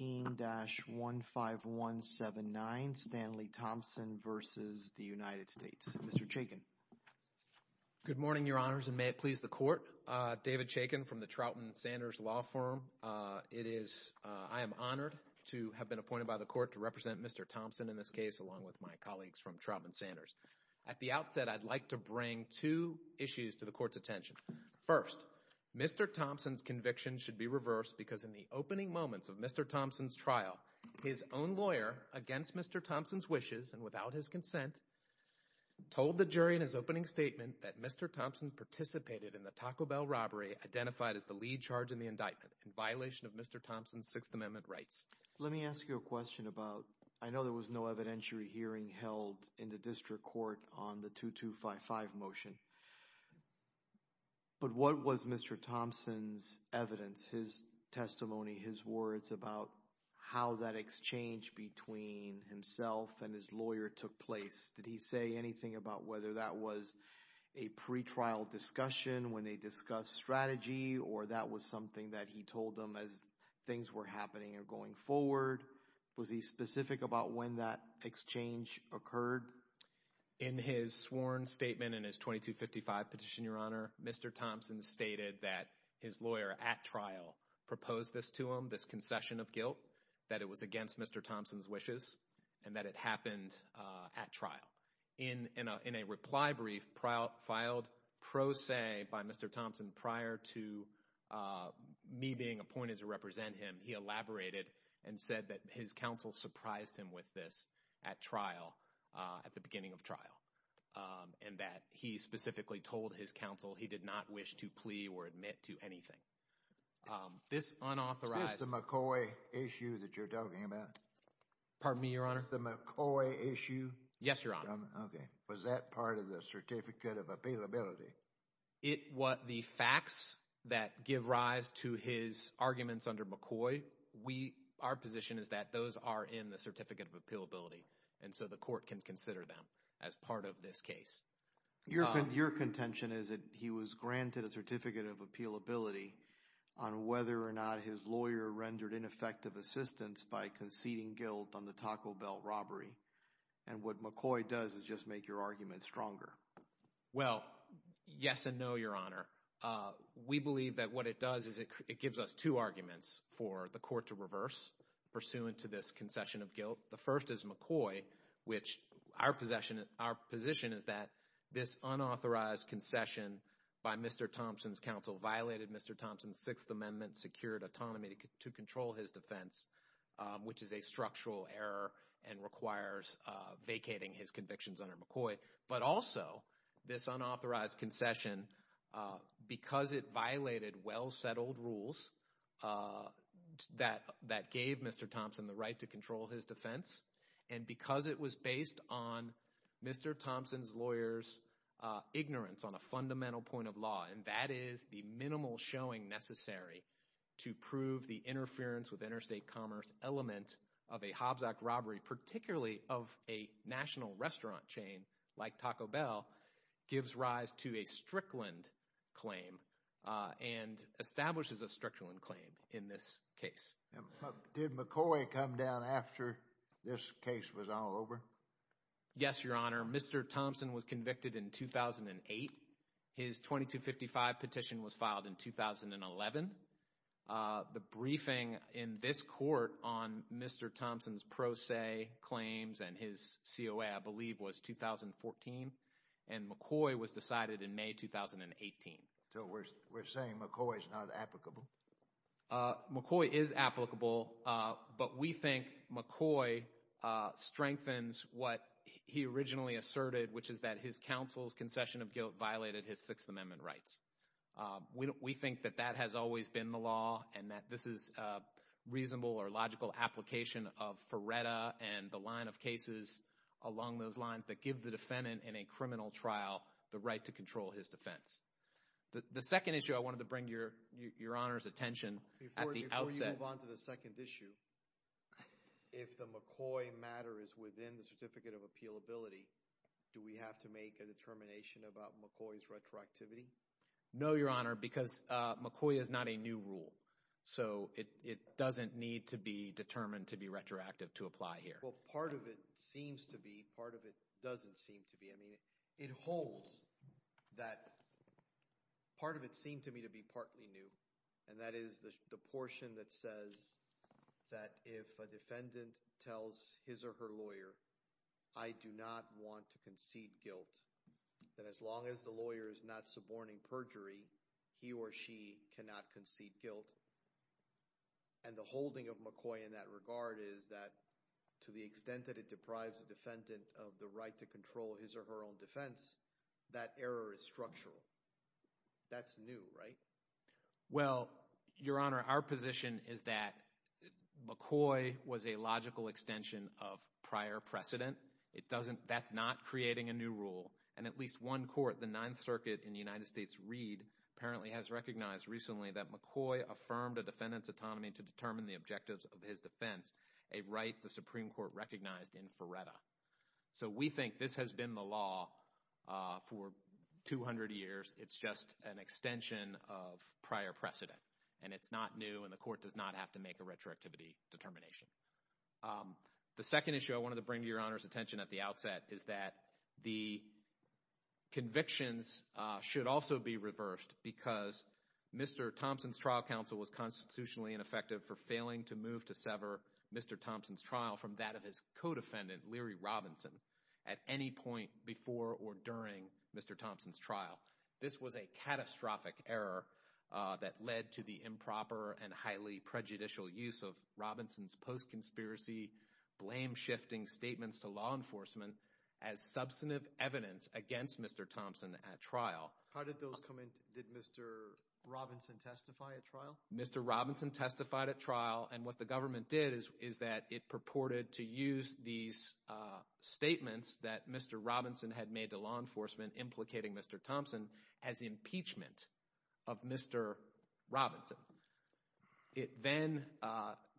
13-15179 Stanley Thompson v. United States Mr. Chaykin. Good morning your honors and may it please the court. David Chaykin from the Troutman Sanders Law Firm. It is, I am honored to have been appointed by the court to represent Mr. Thompson in this case along with my colleagues from Troutman Sanders. At the outset I'd like to bring two issues to the court's attention. First, Mr. Thompson's conviction should be reversed because in the opening moments of Mr. Thompson's trial, his own lawyer, against Mr. Thompson's wishes and without his consent, told the jury in his opening statement that Mr. Thompson participated in the Taco Bell robbery identified as the lead charge in the indictment in violation of Mr. Thompson's Sixth Amendment rights. Let me ask you a question about, I know there was no evidentiary hearing held in the district court on the 2255 motion, but what was Mr. Thompson's evidence, his testimony, his words about how that exchange between himself and his lawyer took place? Did he say anything about whether that was a pre-trial discussion when they discussed strategy or that was something that he told them as things were happening or going forward? Was he specific about when that exchange occurred? In his sworn statement in his 2255 petition, Your Honor, Mr. Thompson stated that his lawyer at trial proposed this to him, this concession of guilt, that it was against Mr. Thompson's wishes and that it happened at trial. In a reply brief filed pro se by Mr. Thompson prior to me being appointed to represent him, he elaborated and said that his counsel surprised him with this at trial, at the beginning of trial, and that he specifically told his counsel he did not wish to plea or admit to anything. This unauthorized- Is this the McCoy issue that you're talking about? Pardon me, Your Honor? Is this the McCoy issue? Yes, Your Honor. Okay. Was that part of the Certificate of Appealability? The facts that give rise to his arguments under McCoy, our position is that those are in the Certificate of Appealability, and so the court can consider them as part of this case. Your contention is that he was granted a Certificate of Appealability on whether or not his lawyer rendered ineffective assistance by conceding guilt on the Taco Bell robbery, and what McCoy does is just make your argument stronger. Well, yes and no, Your Honor. We believe that what it does is it gives us two arguments for the court to reverse pursuant to this concession of guilt. The first is McCoy, which our position is that this unauthorized concession by Mr. Thompson's counsel violated Mr. Thompson's Sixth Amendment secured autonomy to control his defense, which is a structural error and requires vacating his convictions under McCoy. But also, this unauthorized concession, because it violated well-settled rules that gave Mr. Thompson the right to control his defense, and because it was based on Mr. Thompson's lawyer's ignorance on a fundamental point of law, and that is the minimal showing necessary to prove the interference with interstate commerce element of a Hobsock robbery, particularly of a national restaurant chain like Taco Bell, gives rise to a Strickland claim and establishes a Strickland claim in this case. Did McCoy come down after this case was all over? Yes, Your Honor. Mr. Thompson was convicted in 2008. His 2255 petition was filed in 2011. The briefing in this court on Mr. Thompson's pro se claims and his COA, I believe, was 2014, and McCoy was decided in May 2018. So we're saying McCoy's not applicable? McCoy is applicable, but we think McCoy strengthens what he originally asserted, which is that his counsel's concession of guilt violated his Sixth Amendment rights. We think that that has always been the law and that this is a reasonable or logical application of Paretta and the line of cases along those lines that give the defendant in a criminal trial the right to control his defense. The second issue I wanted to bring to Your Honor's attention at the outset. Before you move on to the second issue, if the McCoy matter is within the Certificate of Appealability, do we have to make a determination about McCoy's retroactivity? No, Your Honor, because McCoy is not a new rule, so it doesn't need to be determined to be retroactive to apply here. Well, part of it seems to be, part of it doesn't seem to be. I mean, it holds that part of it seemed to me to be partly new, and that is the portion that says that if a defendant tells his or her lawyer, I do not want to concede guilt, that as long as the lawyer is not suborning perjury, he or she cannot concede guilt. And the holding of McCoy in that regard is that to the extent that it deprives a defendant of the right to control his or her own defense, that error is structural. That's new, right? Well, Your Honor, our position is that McCoy was a logical extension of prior precedent. It doesn't, that's not creating a new rule, and at least one court, the Ninth Circuit in the United States, Reed, apparently has recognized recently that McCoy affirmed a defendant's autonomy to determine the objectives of his defense, a right the Supreme Court recognized in Feretta. So we think this has been the law for 200 years. It's just an extension of prior precedent. And it's not new, and the court does not have to make a retroactivity determination. The second issue I wanted to bring to Your Honor's attention at the outset is that the convictions should also be reversed because Mr. Thompson's trial counsel was constitutionally ineffective for failing to move to sever Mr. Thompson's trial from that of his co-defendant, Leary Robinson, at any point before or during Mr. Thompson's trial. This was a catastrophic error that led to the improper and highly prejudicial use of Robinson's post-conspiracy, blame-shifting statements to law enforcement as substantive evidence against Mr. Thompson at trial. How did those come into, did Mr. Robinson testify at trial? Mr. Robinson testified at trial, and what the government did is that it purported to use these statements that Mr. Robinson had made to law enforcement implicating Mr. Thompson as impeachment of Mr. Robinson. It then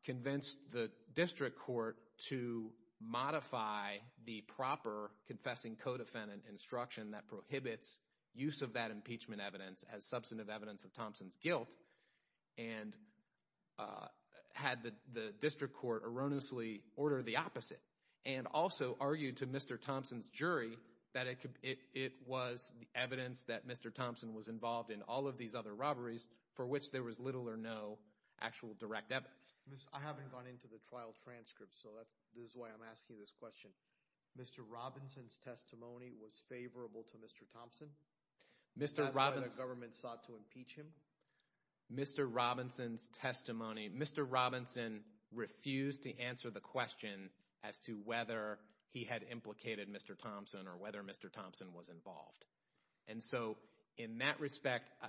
convinced the district court to modify the proper confessing co-defendant instruction that prohibits use of that impeachment evidence as substantive evidence of Thompson's guilt and had the district court erroneously order the opposite and also argued to Mr. Thompson's jury that it was evidence that Mr. Thompson was involved in all of these other robberies for which there was little or no actual direct evidence. I haven't gone into the trial transcripts, so this is why I'm asking this question. Mr. Robinson's testimony was favorable to Mr. Thompson? That's why the government sought to impeach him? Mr. Robinson's testimony, Mr. Robinson refused to answer the question as to whether he had implicated Mr. Thompson or whether Mr. Thompson was involved. And so, in that respect, I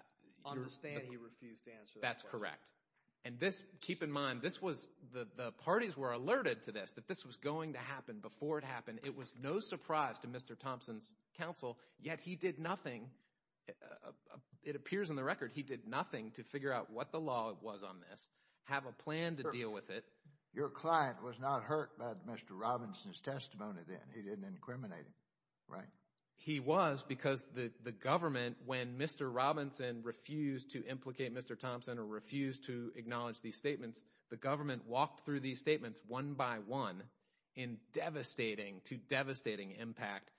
understand he refused to answer that question. That's correct. And this, keep in mind, this was, the parties were alerted to this, that this was going to happen before it happened. And it was no surprise to Mr. Thompson's counsel, yet he did nothing, it appears in the record, he did nothing to figure out what the law was on this, have a plan to deal with it. Your client was not hurt by Mr. Robinson's testimony then, he didn't incriminate him, right? He was because the government, when Mr. Robinson refused to implicate Mr. Thompson or refused to acknowledge these statements, the government walked through these statements one by one in devastating to devastating impact.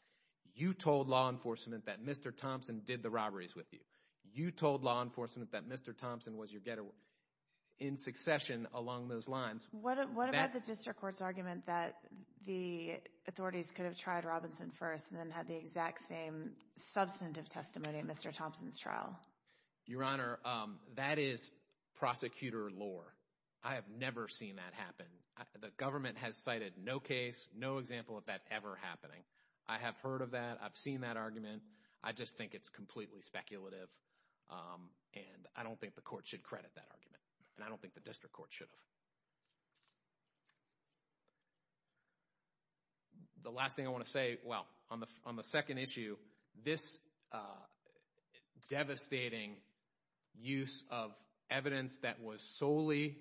You told law enforcement that Mr. Thompson did the robberies with you. You told law enforcement that Mr. Thompson was your getter in succession along those lines. What about the district court's argument that the authorities could have tried Robinson first and then had the exact same substantive testimony in Mr. Thompson's trial? Your Honor, that is prosecutor lore. I have never seen that happen. The government has cited no case, no example of that ever happening. I have heard of that, I've seen that argument, I just think it's completely speculative and I don't think the court should credit that argument and I don't think the district court should have. The last thing I want to say, well, on the second issue, this devastating use of evidence that was solely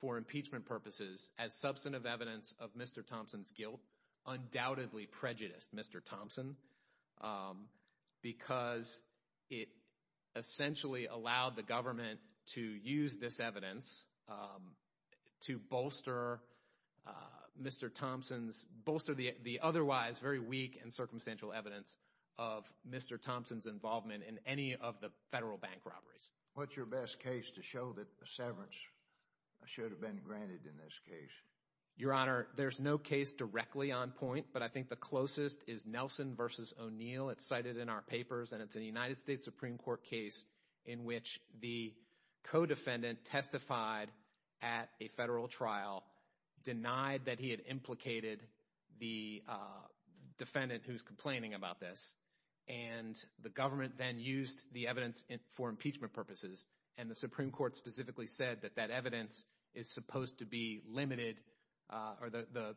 for impeachment purposes as substantive evidence of Mr. Thompson's guilt undoubtedly prejudiced Mr. Thompson because it essentially allowed the government to use this evidence to bolster Mr. Thompson's, bolster the otherwise very weak and circumstantial evidence of Mr. Thompson's involvement in any of the federal bank robberies. What's your best case to show that severance should have been granted in this case? Your Honor, there's no case directly on point, but I think the closest is Nelson v. O'Neill. It's cited in our papers and it's a United States Supreme Court case in which the co-defendant testified at a federal trial, denied that he had implicated the defendant who's complaining about this, and the government then used the evidence for impeachment purposes and the Supreme Court specifically said that that evidence is supposed to be limited or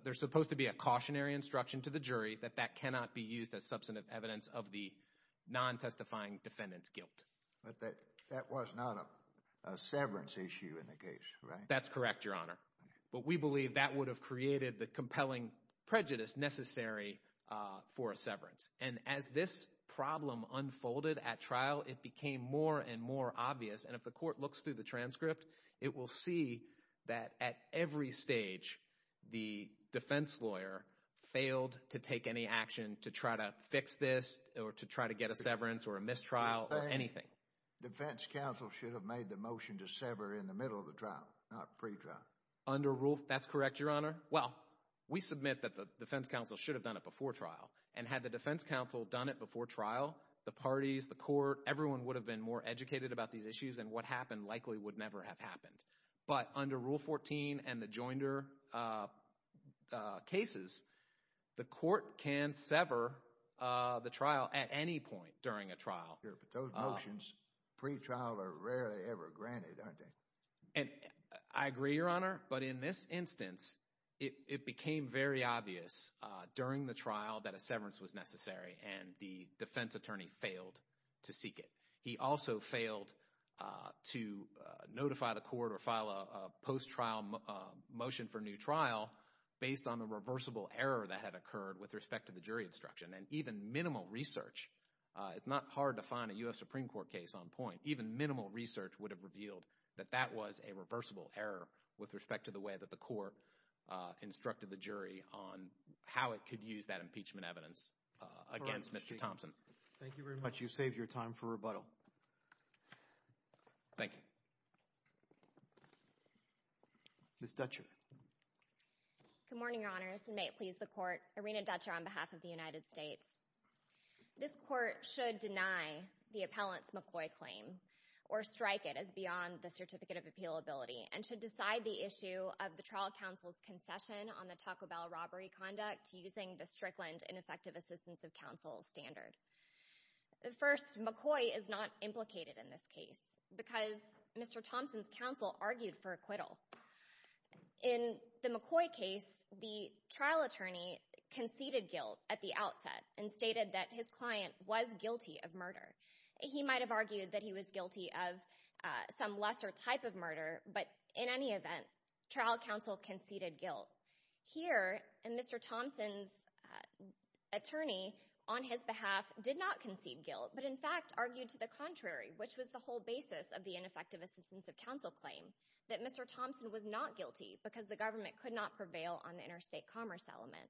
there's supposed to be a cautionary instruction to the jury that that cannot be used as substantive evidence of the non-testifying defendant's guilt. That was not a severance issue in the case, right? That's correct, Your Honor, but we believe that would have created the compelling prejudice necessary for a severance. And as this problem unfolded at trial, it became more and more obvious, and if the court looks through the transcript, it will see that at every stage, the defense lawyer failed to take any action to try to fix this or to try to get a severance or a mistrial or anything. Defense counsel should have made the motion to sever in the middle of the trial, not pre-trial. Under rule, that's correct, Your Honor. Well, we submit that the defense counsel should have done it before trial, and had the defense counsel done it before trial, the parties, the court, everyone would have been more educated about these issues and what happened likely would never have happened. But under Rule 14 and the Joinder cases, the court can sever the trial at any point during a trial. Sure, but those motions, pre-trial are rarely ever granted, aren't they? And I agree, Your Honor, but in this instance, it became very obvious during the trial that a severance was necessary, and the defense attorney failed to seek it. He also failed to notify the court or file a post-trial motion for new trial based on the reversible error that had occurred with respect to the jury instruction. And even minimal research, it's not hard to find a U.S. Supreme Court case on point, even if that was a reversible error with respect to the way that the court instructed the jury on how it could use that impeachment evidence against Mr. Thompson. Thank you very much. You saved your time for rebuttal. Thank you. Ms. Dutcher. Good morning, Your Honors, and may it please the court, Irina Dutcher on behalf of the United States. This court should deny the appellant's McCoy claim or strike it as beyond the certificate of appealability and should decide the issue of the trial counsel's concession on the Taco Bell robbery conduct using the Strickland Ineffective Assistance of Counsel standard. First, McCoy is not implicated in this case because Mr. Thompson's counsel argued for acquittal. In the McCoy case, the trial attorney conceded guilt at the outset and stated that his client was guilty of murder. He might have argued that he was guilty of some lesser type of murder, but in any event, trial counsel conceded guilt. Here, Mr. Thompson's attorney on his behalf did not concede guilt, but in fact argued to the contrary, which was the whole basis of the ineffective assistance of counsel claim, that Mr. Thompson was not guilty because the government could not prevail on the interstate commerce element.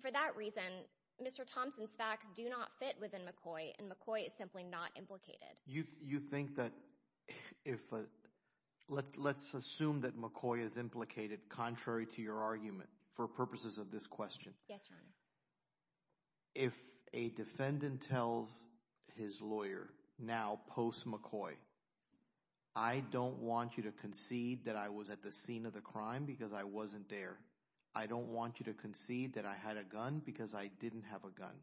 For that reason, Mr. Thompson's facts do not fit within McCoy and McCoy is simply not implicated. You think that if, let's assume that McCoy is implicated contrary to your argument for purposes of this question. If a defendant tells his lawyer now post-McCoy, I don't want you to concede that I was at the scene of the crime because I wasn't there. I don't want you to concede that I had a gun because I didn't have a gun.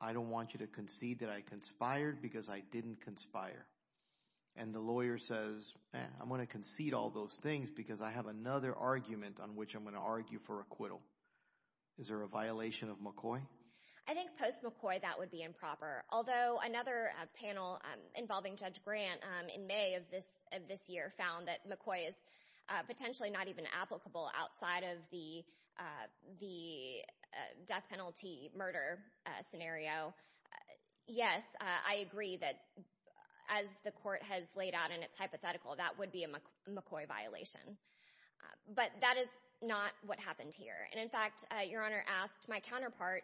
I don't want you to concede that I conspired because I didn't conspire. And the lawyer says, I'm going to concede all those things because I have another argument on which I'm going to argue for acquittal. Is there a violation of McCoy? I think post-McCoy that would be improper. Although another panel involving Judge Grant in May of this year found that McCoy is potentially not even applicable outside of the death penalty murder scenario, yes, I agree that as the court has laid out in its hypothetical, that would be a McCoy violation. But that is not what happened here. And in fact, Your Honor asked my counterpart,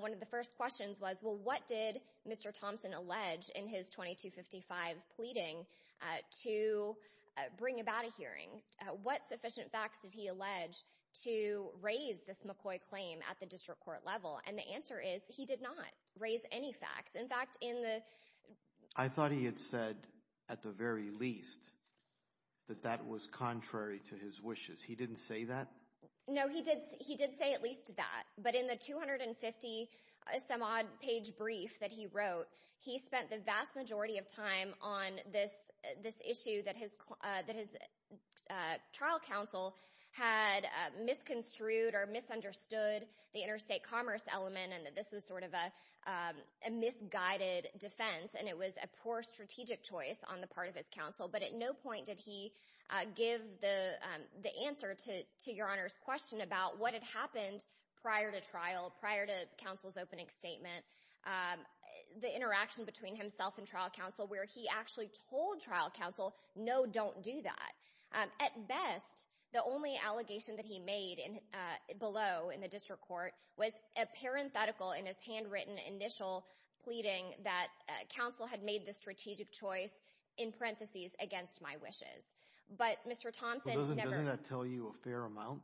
one of the first questions was, well, what did Mr. Thompson allege in his 2255 pleading to bring about a hearing? What sufficient facts did he allege to raise this McCoy claim at the district court level? And the answer is, he did not raise any facts. In fact, in the— I thought he had said at the very least that that was contrary to his wishes. He didn't say that? No, he did say at least that. But in the 250-some-odd page brief that he wrote, he spent the vast majority of time on this issue that his trial counsel had misconstrued or misunderstood the interstate commerce element and that this was sort of a misguided defense and it was a poor strategic choice on the part of his counsel. But at no point did he give the answer to Your Honor's question about what had happened prior to trial, prior to counsel's opening statement, the interaction between himself and trial counsel, where he actually told trial counsel, no, don't do that. At best, the only allegation that he made below in the district court was a parenthetical in his handwritten initial pleading that counsel had made the strategic choice, in parentheses, against my wishes. But Mr. Thompson never— But doesn't that tell you a fair amount?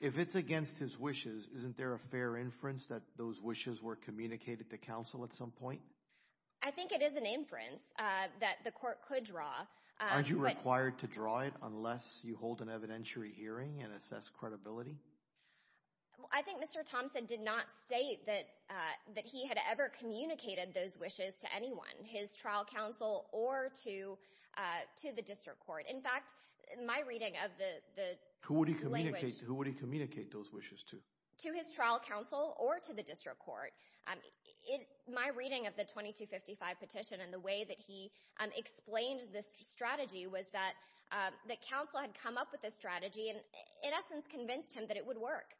If it's against his wishes, isn't there a fair inference that those wishes were communicated to counsel at some point? I think it is an inference that the court could draw. Aren't you required to draw it unless you hold an evidentiary hearing and assess credibility? I think Mr. Thompson did not state that he had ever communicated those wishes to anyone, his trial counsel or to the district court. In fact, my reading of the language— Who would he communicate those wishes to? To his trial counsel or to the district court. My reading of the 2255 petition and the way that he explained this strategy was that counsel had come up with this strategy and, in essence, convinced him that it would work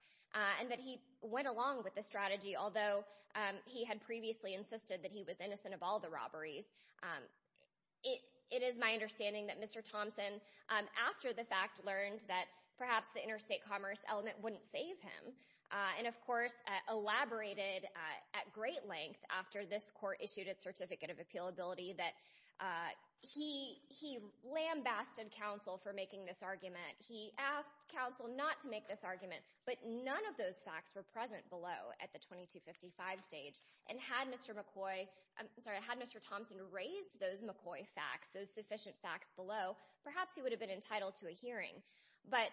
and that he went along with the strategy, although he had previously insisted that he was innocent of all the robberies. It is my understanding that Mr. Thompson, after the fact, learned that perhaps the interstate commerce element wouldn't save him and, of course, elaborated at great length, after this court issued its certificate of appealability, that he lambasted counsel for making this argument. He asked counsel not to make this argument, but none of those facts were present below at the 2255 stage. And had Mr. McCoy—I'm sorry—had Mr. Thompson raised those McCoy facts, those sufficient facts below, perhaps he would have been entitled to a hearing. But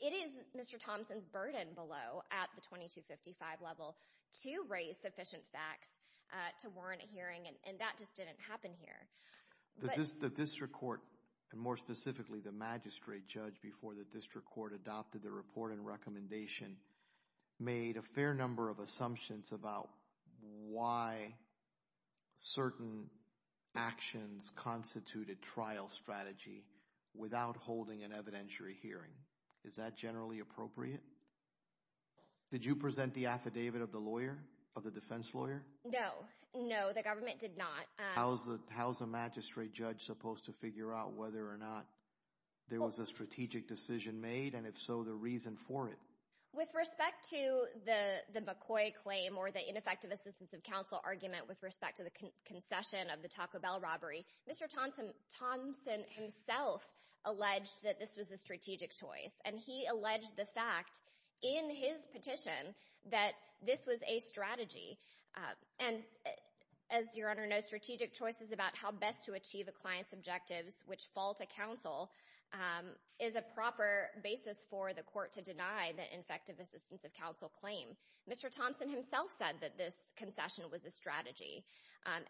it is Mr. Thompson's burden below at the 2255 level to raise sufficient facts to warrant a hearing, and that just didn't happen here. The district court, and more specifically the magistrate judge before the district court adopted the report and recommendation, made a fair number of assumptions about why certain actions constituted trial strategy without holding an evidentiary hearing. Is that generally appropriate? Did you present the affidavit of the lawyer, of the defense lawyer? No. No, the government did not. How's a magistrate judge supposed to figure out whether or not there was a strategic decision made and, if so, the reason for it? With respect to the McCoy claim or the ineffective assistance of counsel argument with respect to the concession of the Taco Bell robbery, Mr. Thompson himself alleged that this was a strategic choice, and he alleged the fact in his petition that this was a strategy. And as your Honor knows, strategic choices about how best to achieve a client's objectives which fall to counsel is a proper basis for the court to deny the infective assistance of counsel claim. Mr. Thompson himself said that this concession was a strategy,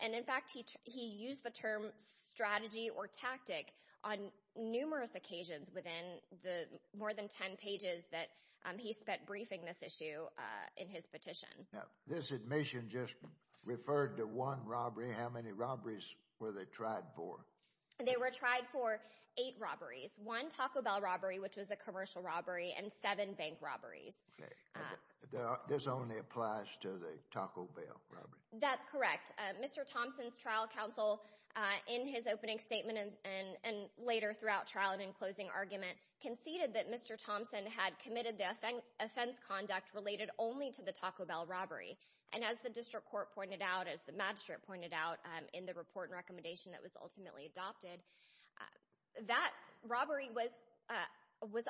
and in fact he used the term strategy or tactic on numerous occasions within the more than 10 pages that he spent briefing this issue in his petition. This admission just referred to one robbery. How many robberies were they tried for? They were tried for eight robberies. One Taco Bell robbery, which was a commercial robbery, and seven bank robberies. This only applies to the Taco Bell robbery? That's correct. Mr. Thompson's trial counsel, in his opening statement and later throughout trial and in closing argument, conceded that Mr. Thompson had committed the offense conduct related only to the Taco Bell robbery. And as the district court pointed out, as the magistrate pointed out in the report and recommendation that was ultimately adopted, that robbery was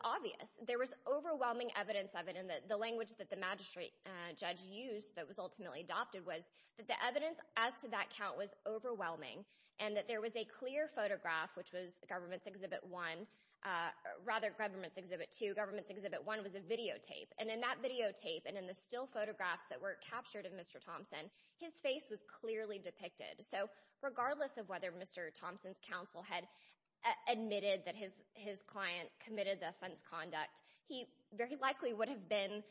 obvious. There was overwhelming evidence of it, and the language that the magistrate judge used that was ultimately adopted was that the evidence as to that count was overwhelming and that there was a clear photograph, which was government's exhibit one, rather government's exhibit two. Government's exhibit one was a videotape, and in that videotape and in the still photographs that were captured of Mr. Thompson, his face was clearly depicted. So regardless of whether Mr. Thompson's counsel had admitted that his client committed the offense conduct, he very likely would have been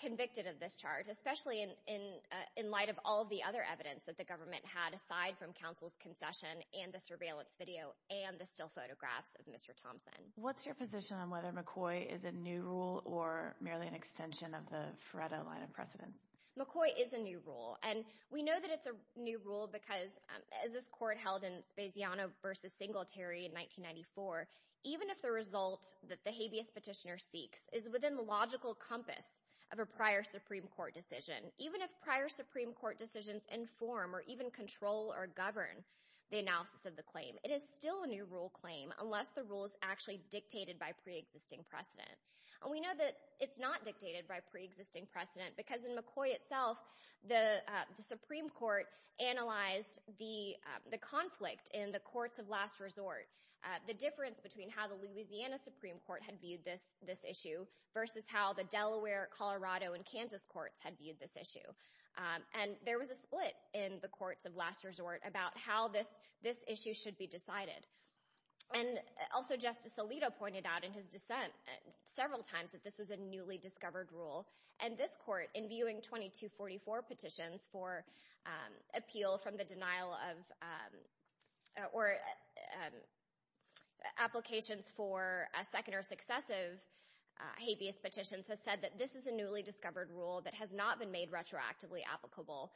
convicted of this charge, especially in light of all of the other evidence that the government had aside from counsel's concession and the surveillance video and the still photographs of Mr. Thompson. What's your position on whether McCoy is a new rule or merely an extension of the FREDA line of precedence? McCoy is a new rule, and we know that it's a new rule because as this court held in Spasiano v. Singletary in 1994, even if the result that the habeas petitioner seeks is within the logical compass of a prior Supreme Court decision, even if prior Supreme Court decisions inform or even control or govern the analysis of the claim, it is still a new rule claim unless the rule is actually dictated by preexisting precedent. We know that it's not dictated by preexisting precedent because in McCoy itself, the Supreme Court analyzed the conflict in the courts of last resort, the difference between how the Louisiana Supreme Court had viewed this issue versus how the Delaware, Colorado, and Kansas courts had viewed this issue. And there was a split in the courts of last resort about how this issue should be decided. And also Justice Alito pointed out in his dissent several times that this was a newly appealed from the denial of, or applications for a second or successive habeas petitions has said that this is a newly discovered rule that has not been made retroactively applicable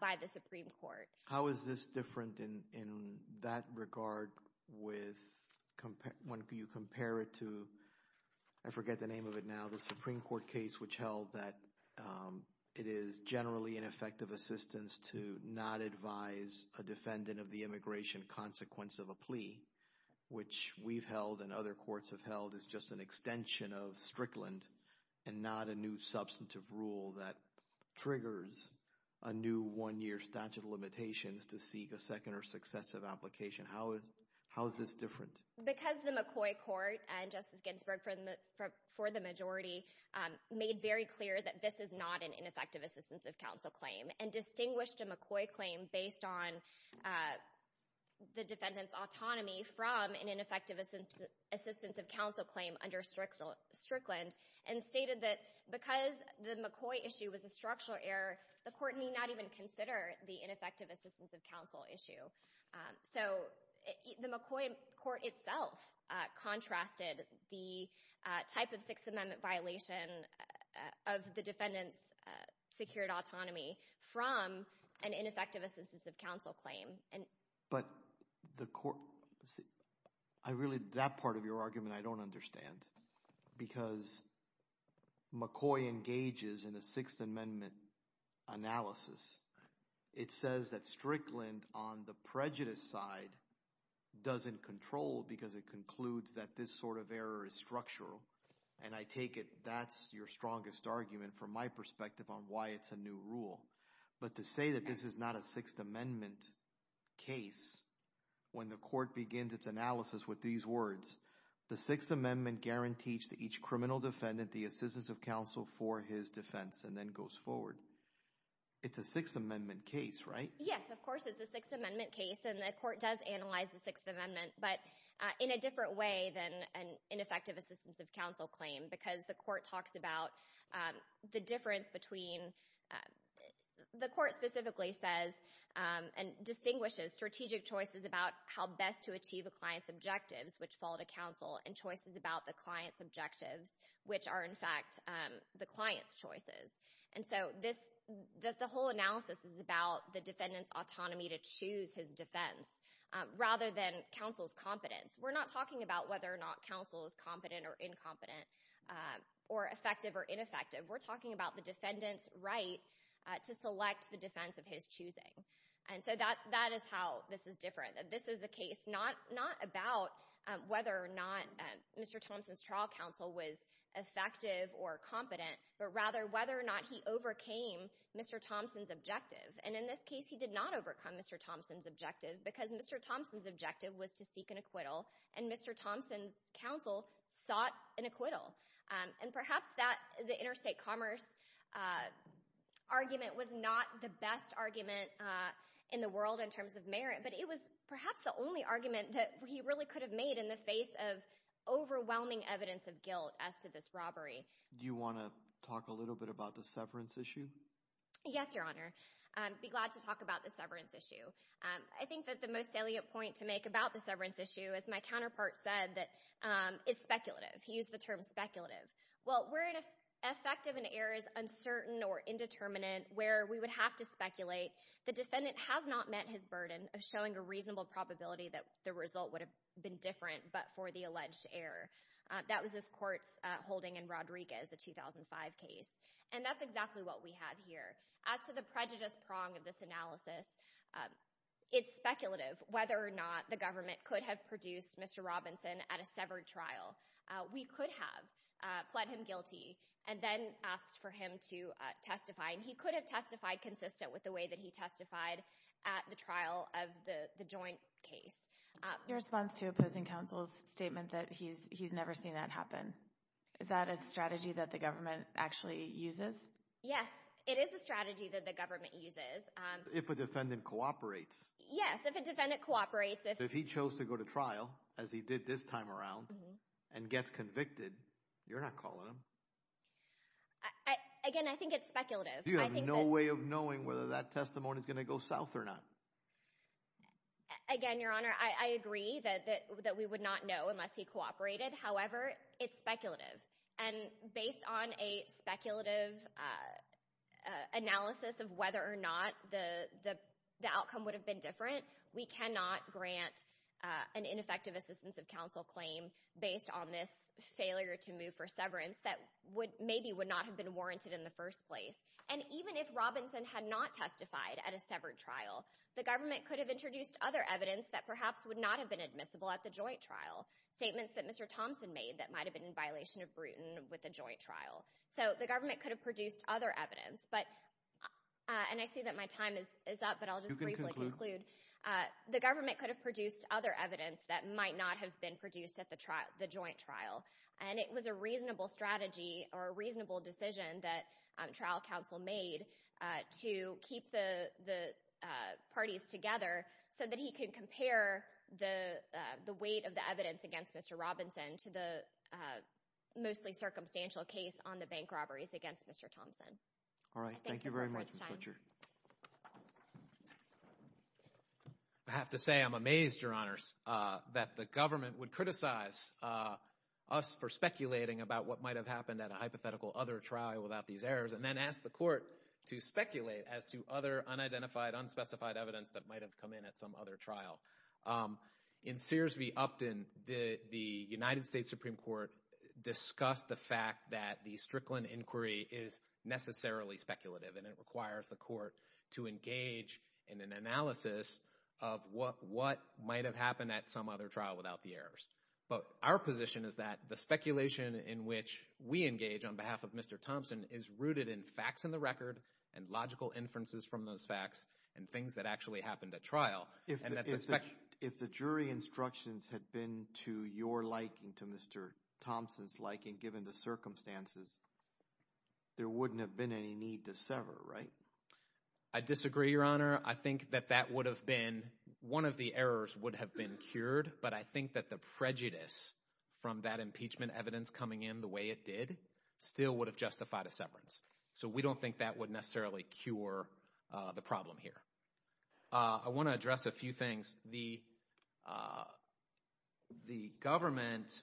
by the Supreme Court. How is this different in that regard with, when you compare it to, I forget the name of it now, the Supreme Court case, which held that it is generally an effective assistance to not advise a defendant of the immigration consequence of a plea, which we've held and other courts have held is just an extension of Strickland and not a new substantive rule that triggers a new one year statute of limitations to seek a second or successive application. How is this different? Because the McCoy court and Justice Ginsburg for the majority made very clear that this is not an ineffective assistance of counsel claim and distinguished a McCoy claim based on the defendant's autonomy from an ineffective assistance of counsel claim under Strickland and stated that because the McCoy issue was a structural error, the court may not even consider the ineffective assistance of counsel issue. So the McCoy court itself contrasted the type of Sixth Amendment violation of the defendant's secured autonomy from an ineffective assistance of counsel claim. But the court, I really, that part of your argument I don't understand because McCoy engages in a Sixth Amendment analysis. It says that Strickland on the prejudice side doesn't control because it concludes that this sort of error is structural and I take it that's your strongest argument from my perspective on why it's a new rule. But to say that this is not a Sixth Amendment case when the court begins its analysis with these words, the Sixth Amendment guarantees to each criminal defendant the assistance of counsel for his defense and then goes forward. It's a Sixth Amendment case, right? Yes, of course it's a Sixth Amendment case and the court does analyze the Sixth Amendment but in a different way than an ineffective assistance of counsel claim because the court talks about the difference between, the court specifically says and distinguishes strategic choices about how best to achieve a client's objectives which fall to counsel and choices about the client's objectives which are in fact the client's choices. And so this, the whole analysis is about the defendant's autonomy to choose his defense rather than counsel's competence. We're not talking about whether or not counsel is competent or incompetent or effective or ineffective. We're talking about the defendant's right to select the defense of his choosing. And so that is how this is different. This is the case not about whether or not Mr. Thompson's trial counsel was effective or competent but rather whether or not he overcame Mr. Thompson's objective. And in this case he did not overcome Mr. Thompson's objective because Mr. Thompson's objective was to seek an acquittal and Mr. Thompson's counsel sought an acquittal. And perhaps that, the interstate commerce argument was not the best argument in the perhaps the only argument that he really could have made in the face of overwhelming evidence of guilt as to this robbery. Do you want to talk a little bit about the severance issue? Yes, your honor. I'd be glad to talk about the severance issue. I think that the most salient point to make about the severance issue, as my counterpart said, that it's speculative. He used the term speculative. Well, where an effective and error is uncertain or indeterminate where we would have to speculate, the defendant has not met his burden of showing a reasonable probability that the result would have been different but for the alleged error. That was this court's holding in Rodriguez, the 2005 case. And that's exactly what we have here. As to the prejudice prong of this analysis, it's speculative whether or not the government could have produced Mr. Robinson at a severed trial. We could have pled him guilty and then asked for him to testify. He could have testified consistent with the way that he testified at the trial of the joint case. In response to opposing counsel's statement that he's never seen that happen, is that a strategy that the government actually uses? Yes, it is a strategy that the government uses. If a defendant cooperates. Yes, if a defendant cooperates. If he chose to go to trial, as he did this time around, and gets convicted, you're not calling him. Again, I think it's speculative. You have no way of knowing whether that testimony is going to go south or not. Again, Your Honor, I agree that we would not know unless he cooperated. However, it's speculative. And based on a speculative analysis of whether or not the outcome would have been different, we cannot grant an ineffective assistance of counsel claim based on this failure to move for severance that maybe would not have been warranted in the first place. And even if Robinson had not testified at a severed trial, the government could have introduced other evidence that perhaps would not have been admissible at the joint trial. Statements that Mr. Thompson made that might have been in violation of Bruton with a joint trial. So the government could have produced other evidence. And I see that my time is up, but I'll just briefly conclude. The government could have produced other evidence that might not have been produced at the joint trial. And it was a reasonable strategy or a reasonable decision that trial counsel made to keep the parties together so that he could compare the weight of the evidence against Mr. Robinson to the mostly circumstantial case on the bank robberies against Mr. Thompson. All right. Thank you very much, Ms. Butcher. I have to say I'm amazed, Your Honors, that the government would criticize us for speculating about what might have happened at a hypothetical other trial without these errors and then ask the court to speculate as to other unidentified, unspecified evidence that might have come in at some other trial. In Sears v. Upton, the United States Supreme Court discussed the fact that the Strickland Inquiry is necessarily speculative and it requires the court to engage in an analysis of what might have happened at some other trial without the errors. But our position is that the speculation in which we engage on behalf of Mr. Thompson is rooted in facts in the record and logical inferences from those facts and things that actually happened at trial. If the jury instructions had been to your liking, to Mr. Thompson's liking, given the circumstances, there wouldn't have been any need to sever, right? I disagree, Your Honor. I think that that would have been, one of the errors would have been cured, but I think that the prejudice from that impeachment evidence coming in the way it did still would have justified a severance. So, we don't think that would necessarily cure the problem here. I want to address a few things. The government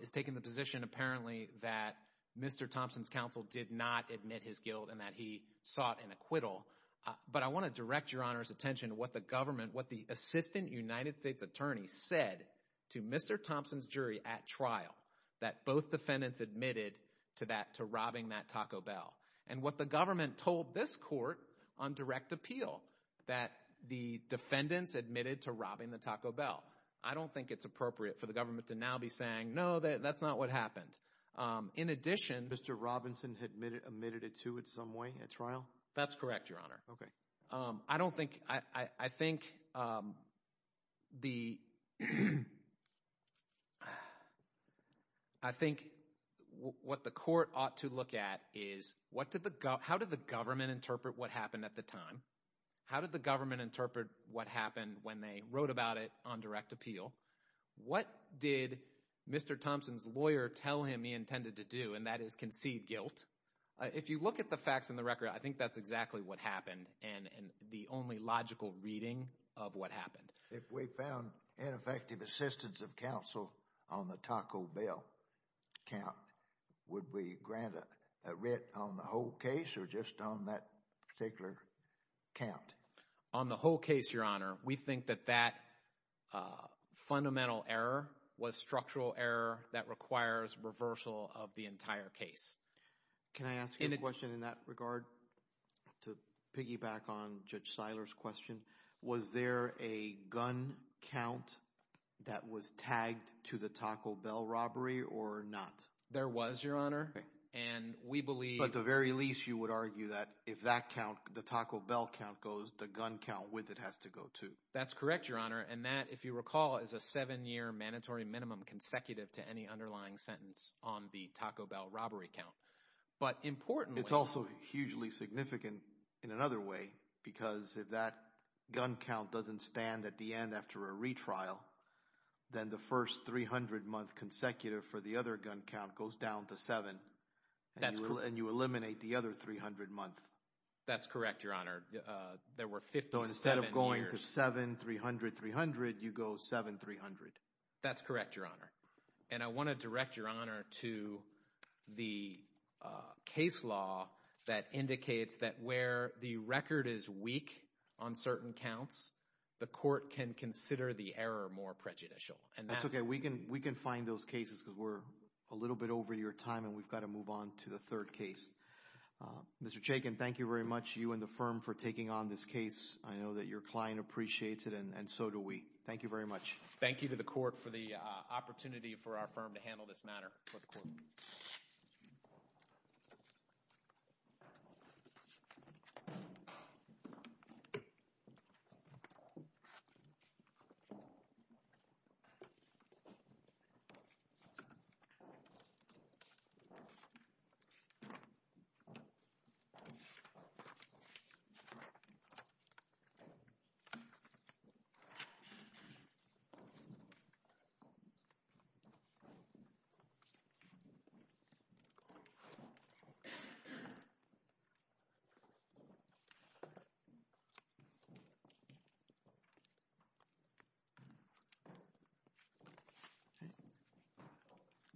is taking the position, apparently, that Mr. Thompson's counsel did not admit his guilt and that he sought an acquittal. But I want to direct Your Honor's attention to what the government, what the assistant United States attorney said to Mr. Thompson's jury at trial, that both defendants admitted to that, to robbing that Taco Bell. And what the government told this court on direct appeal, that the defendants admitted to robbing the Taco Bell. I don't think it's appropriate for the government to now be saying, no, that's not what happened. In addition... Mr. Robinson admitted it to it some way at trial? That's correct, Your Honor. Okay. I don't think, I think the, I think what the court ought to look at is, how did the government interpret what happened at the time? How did the government interpret what happened when they wrote about it on direct appeal? What did Mr. Thompson's lawyer tell him he intended to do, and that is concede guilt? If you look at the facts in the record, I think that's exactly what happened and the only logical reading of what happened. If we found ineffective assistance of counsel on the Taco Bell count, would we grant a writ on the whole case or just on that particular count? On the whole case, Your Honor, we think that that fundamental error was structural error that requires reversal of the entire case. Can I ask you a question in that regard to piggyback on Judge Seiler's question? Was there a gun count that was tagged to the Taco Bell robbery or not? There was, Your Honor. Okay. And we believe... At the very least, you would argue that if that count, the Taco Bell count goes, the gun count with it has to go too. That's correct, Your Honor, and that, if you recall, is a seven-year mandatory minimum consecutive to any underlying sentence on the Taco Bell robbery count. But importantly... It's also hugely significant in another way because if that gun count doesn't stand at the end after a retrial, then the first 300-month consecutive for the other gun count goes down to seven and you eliminate the other 300 months. That's correct, Your Honor. There were 57 years... So instead of going to seven, 300, 300, you go seven, 300. That's correct, Your Honor. And I want to direct Your Honor to the case law that indicates that where the record is can consider the error more prejudicial. That's okay. We can find those cases because we're a little bit over your time and we've got to move on to the third case. Mr. Chaykin, thank you very much, you and the firm, for taking on this case. I know that your client appreciates it and so do we. Thank you very much. Thank you to the court for the opportunity for our firm to handle this matter. Thank you. Thank you.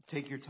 Take your time.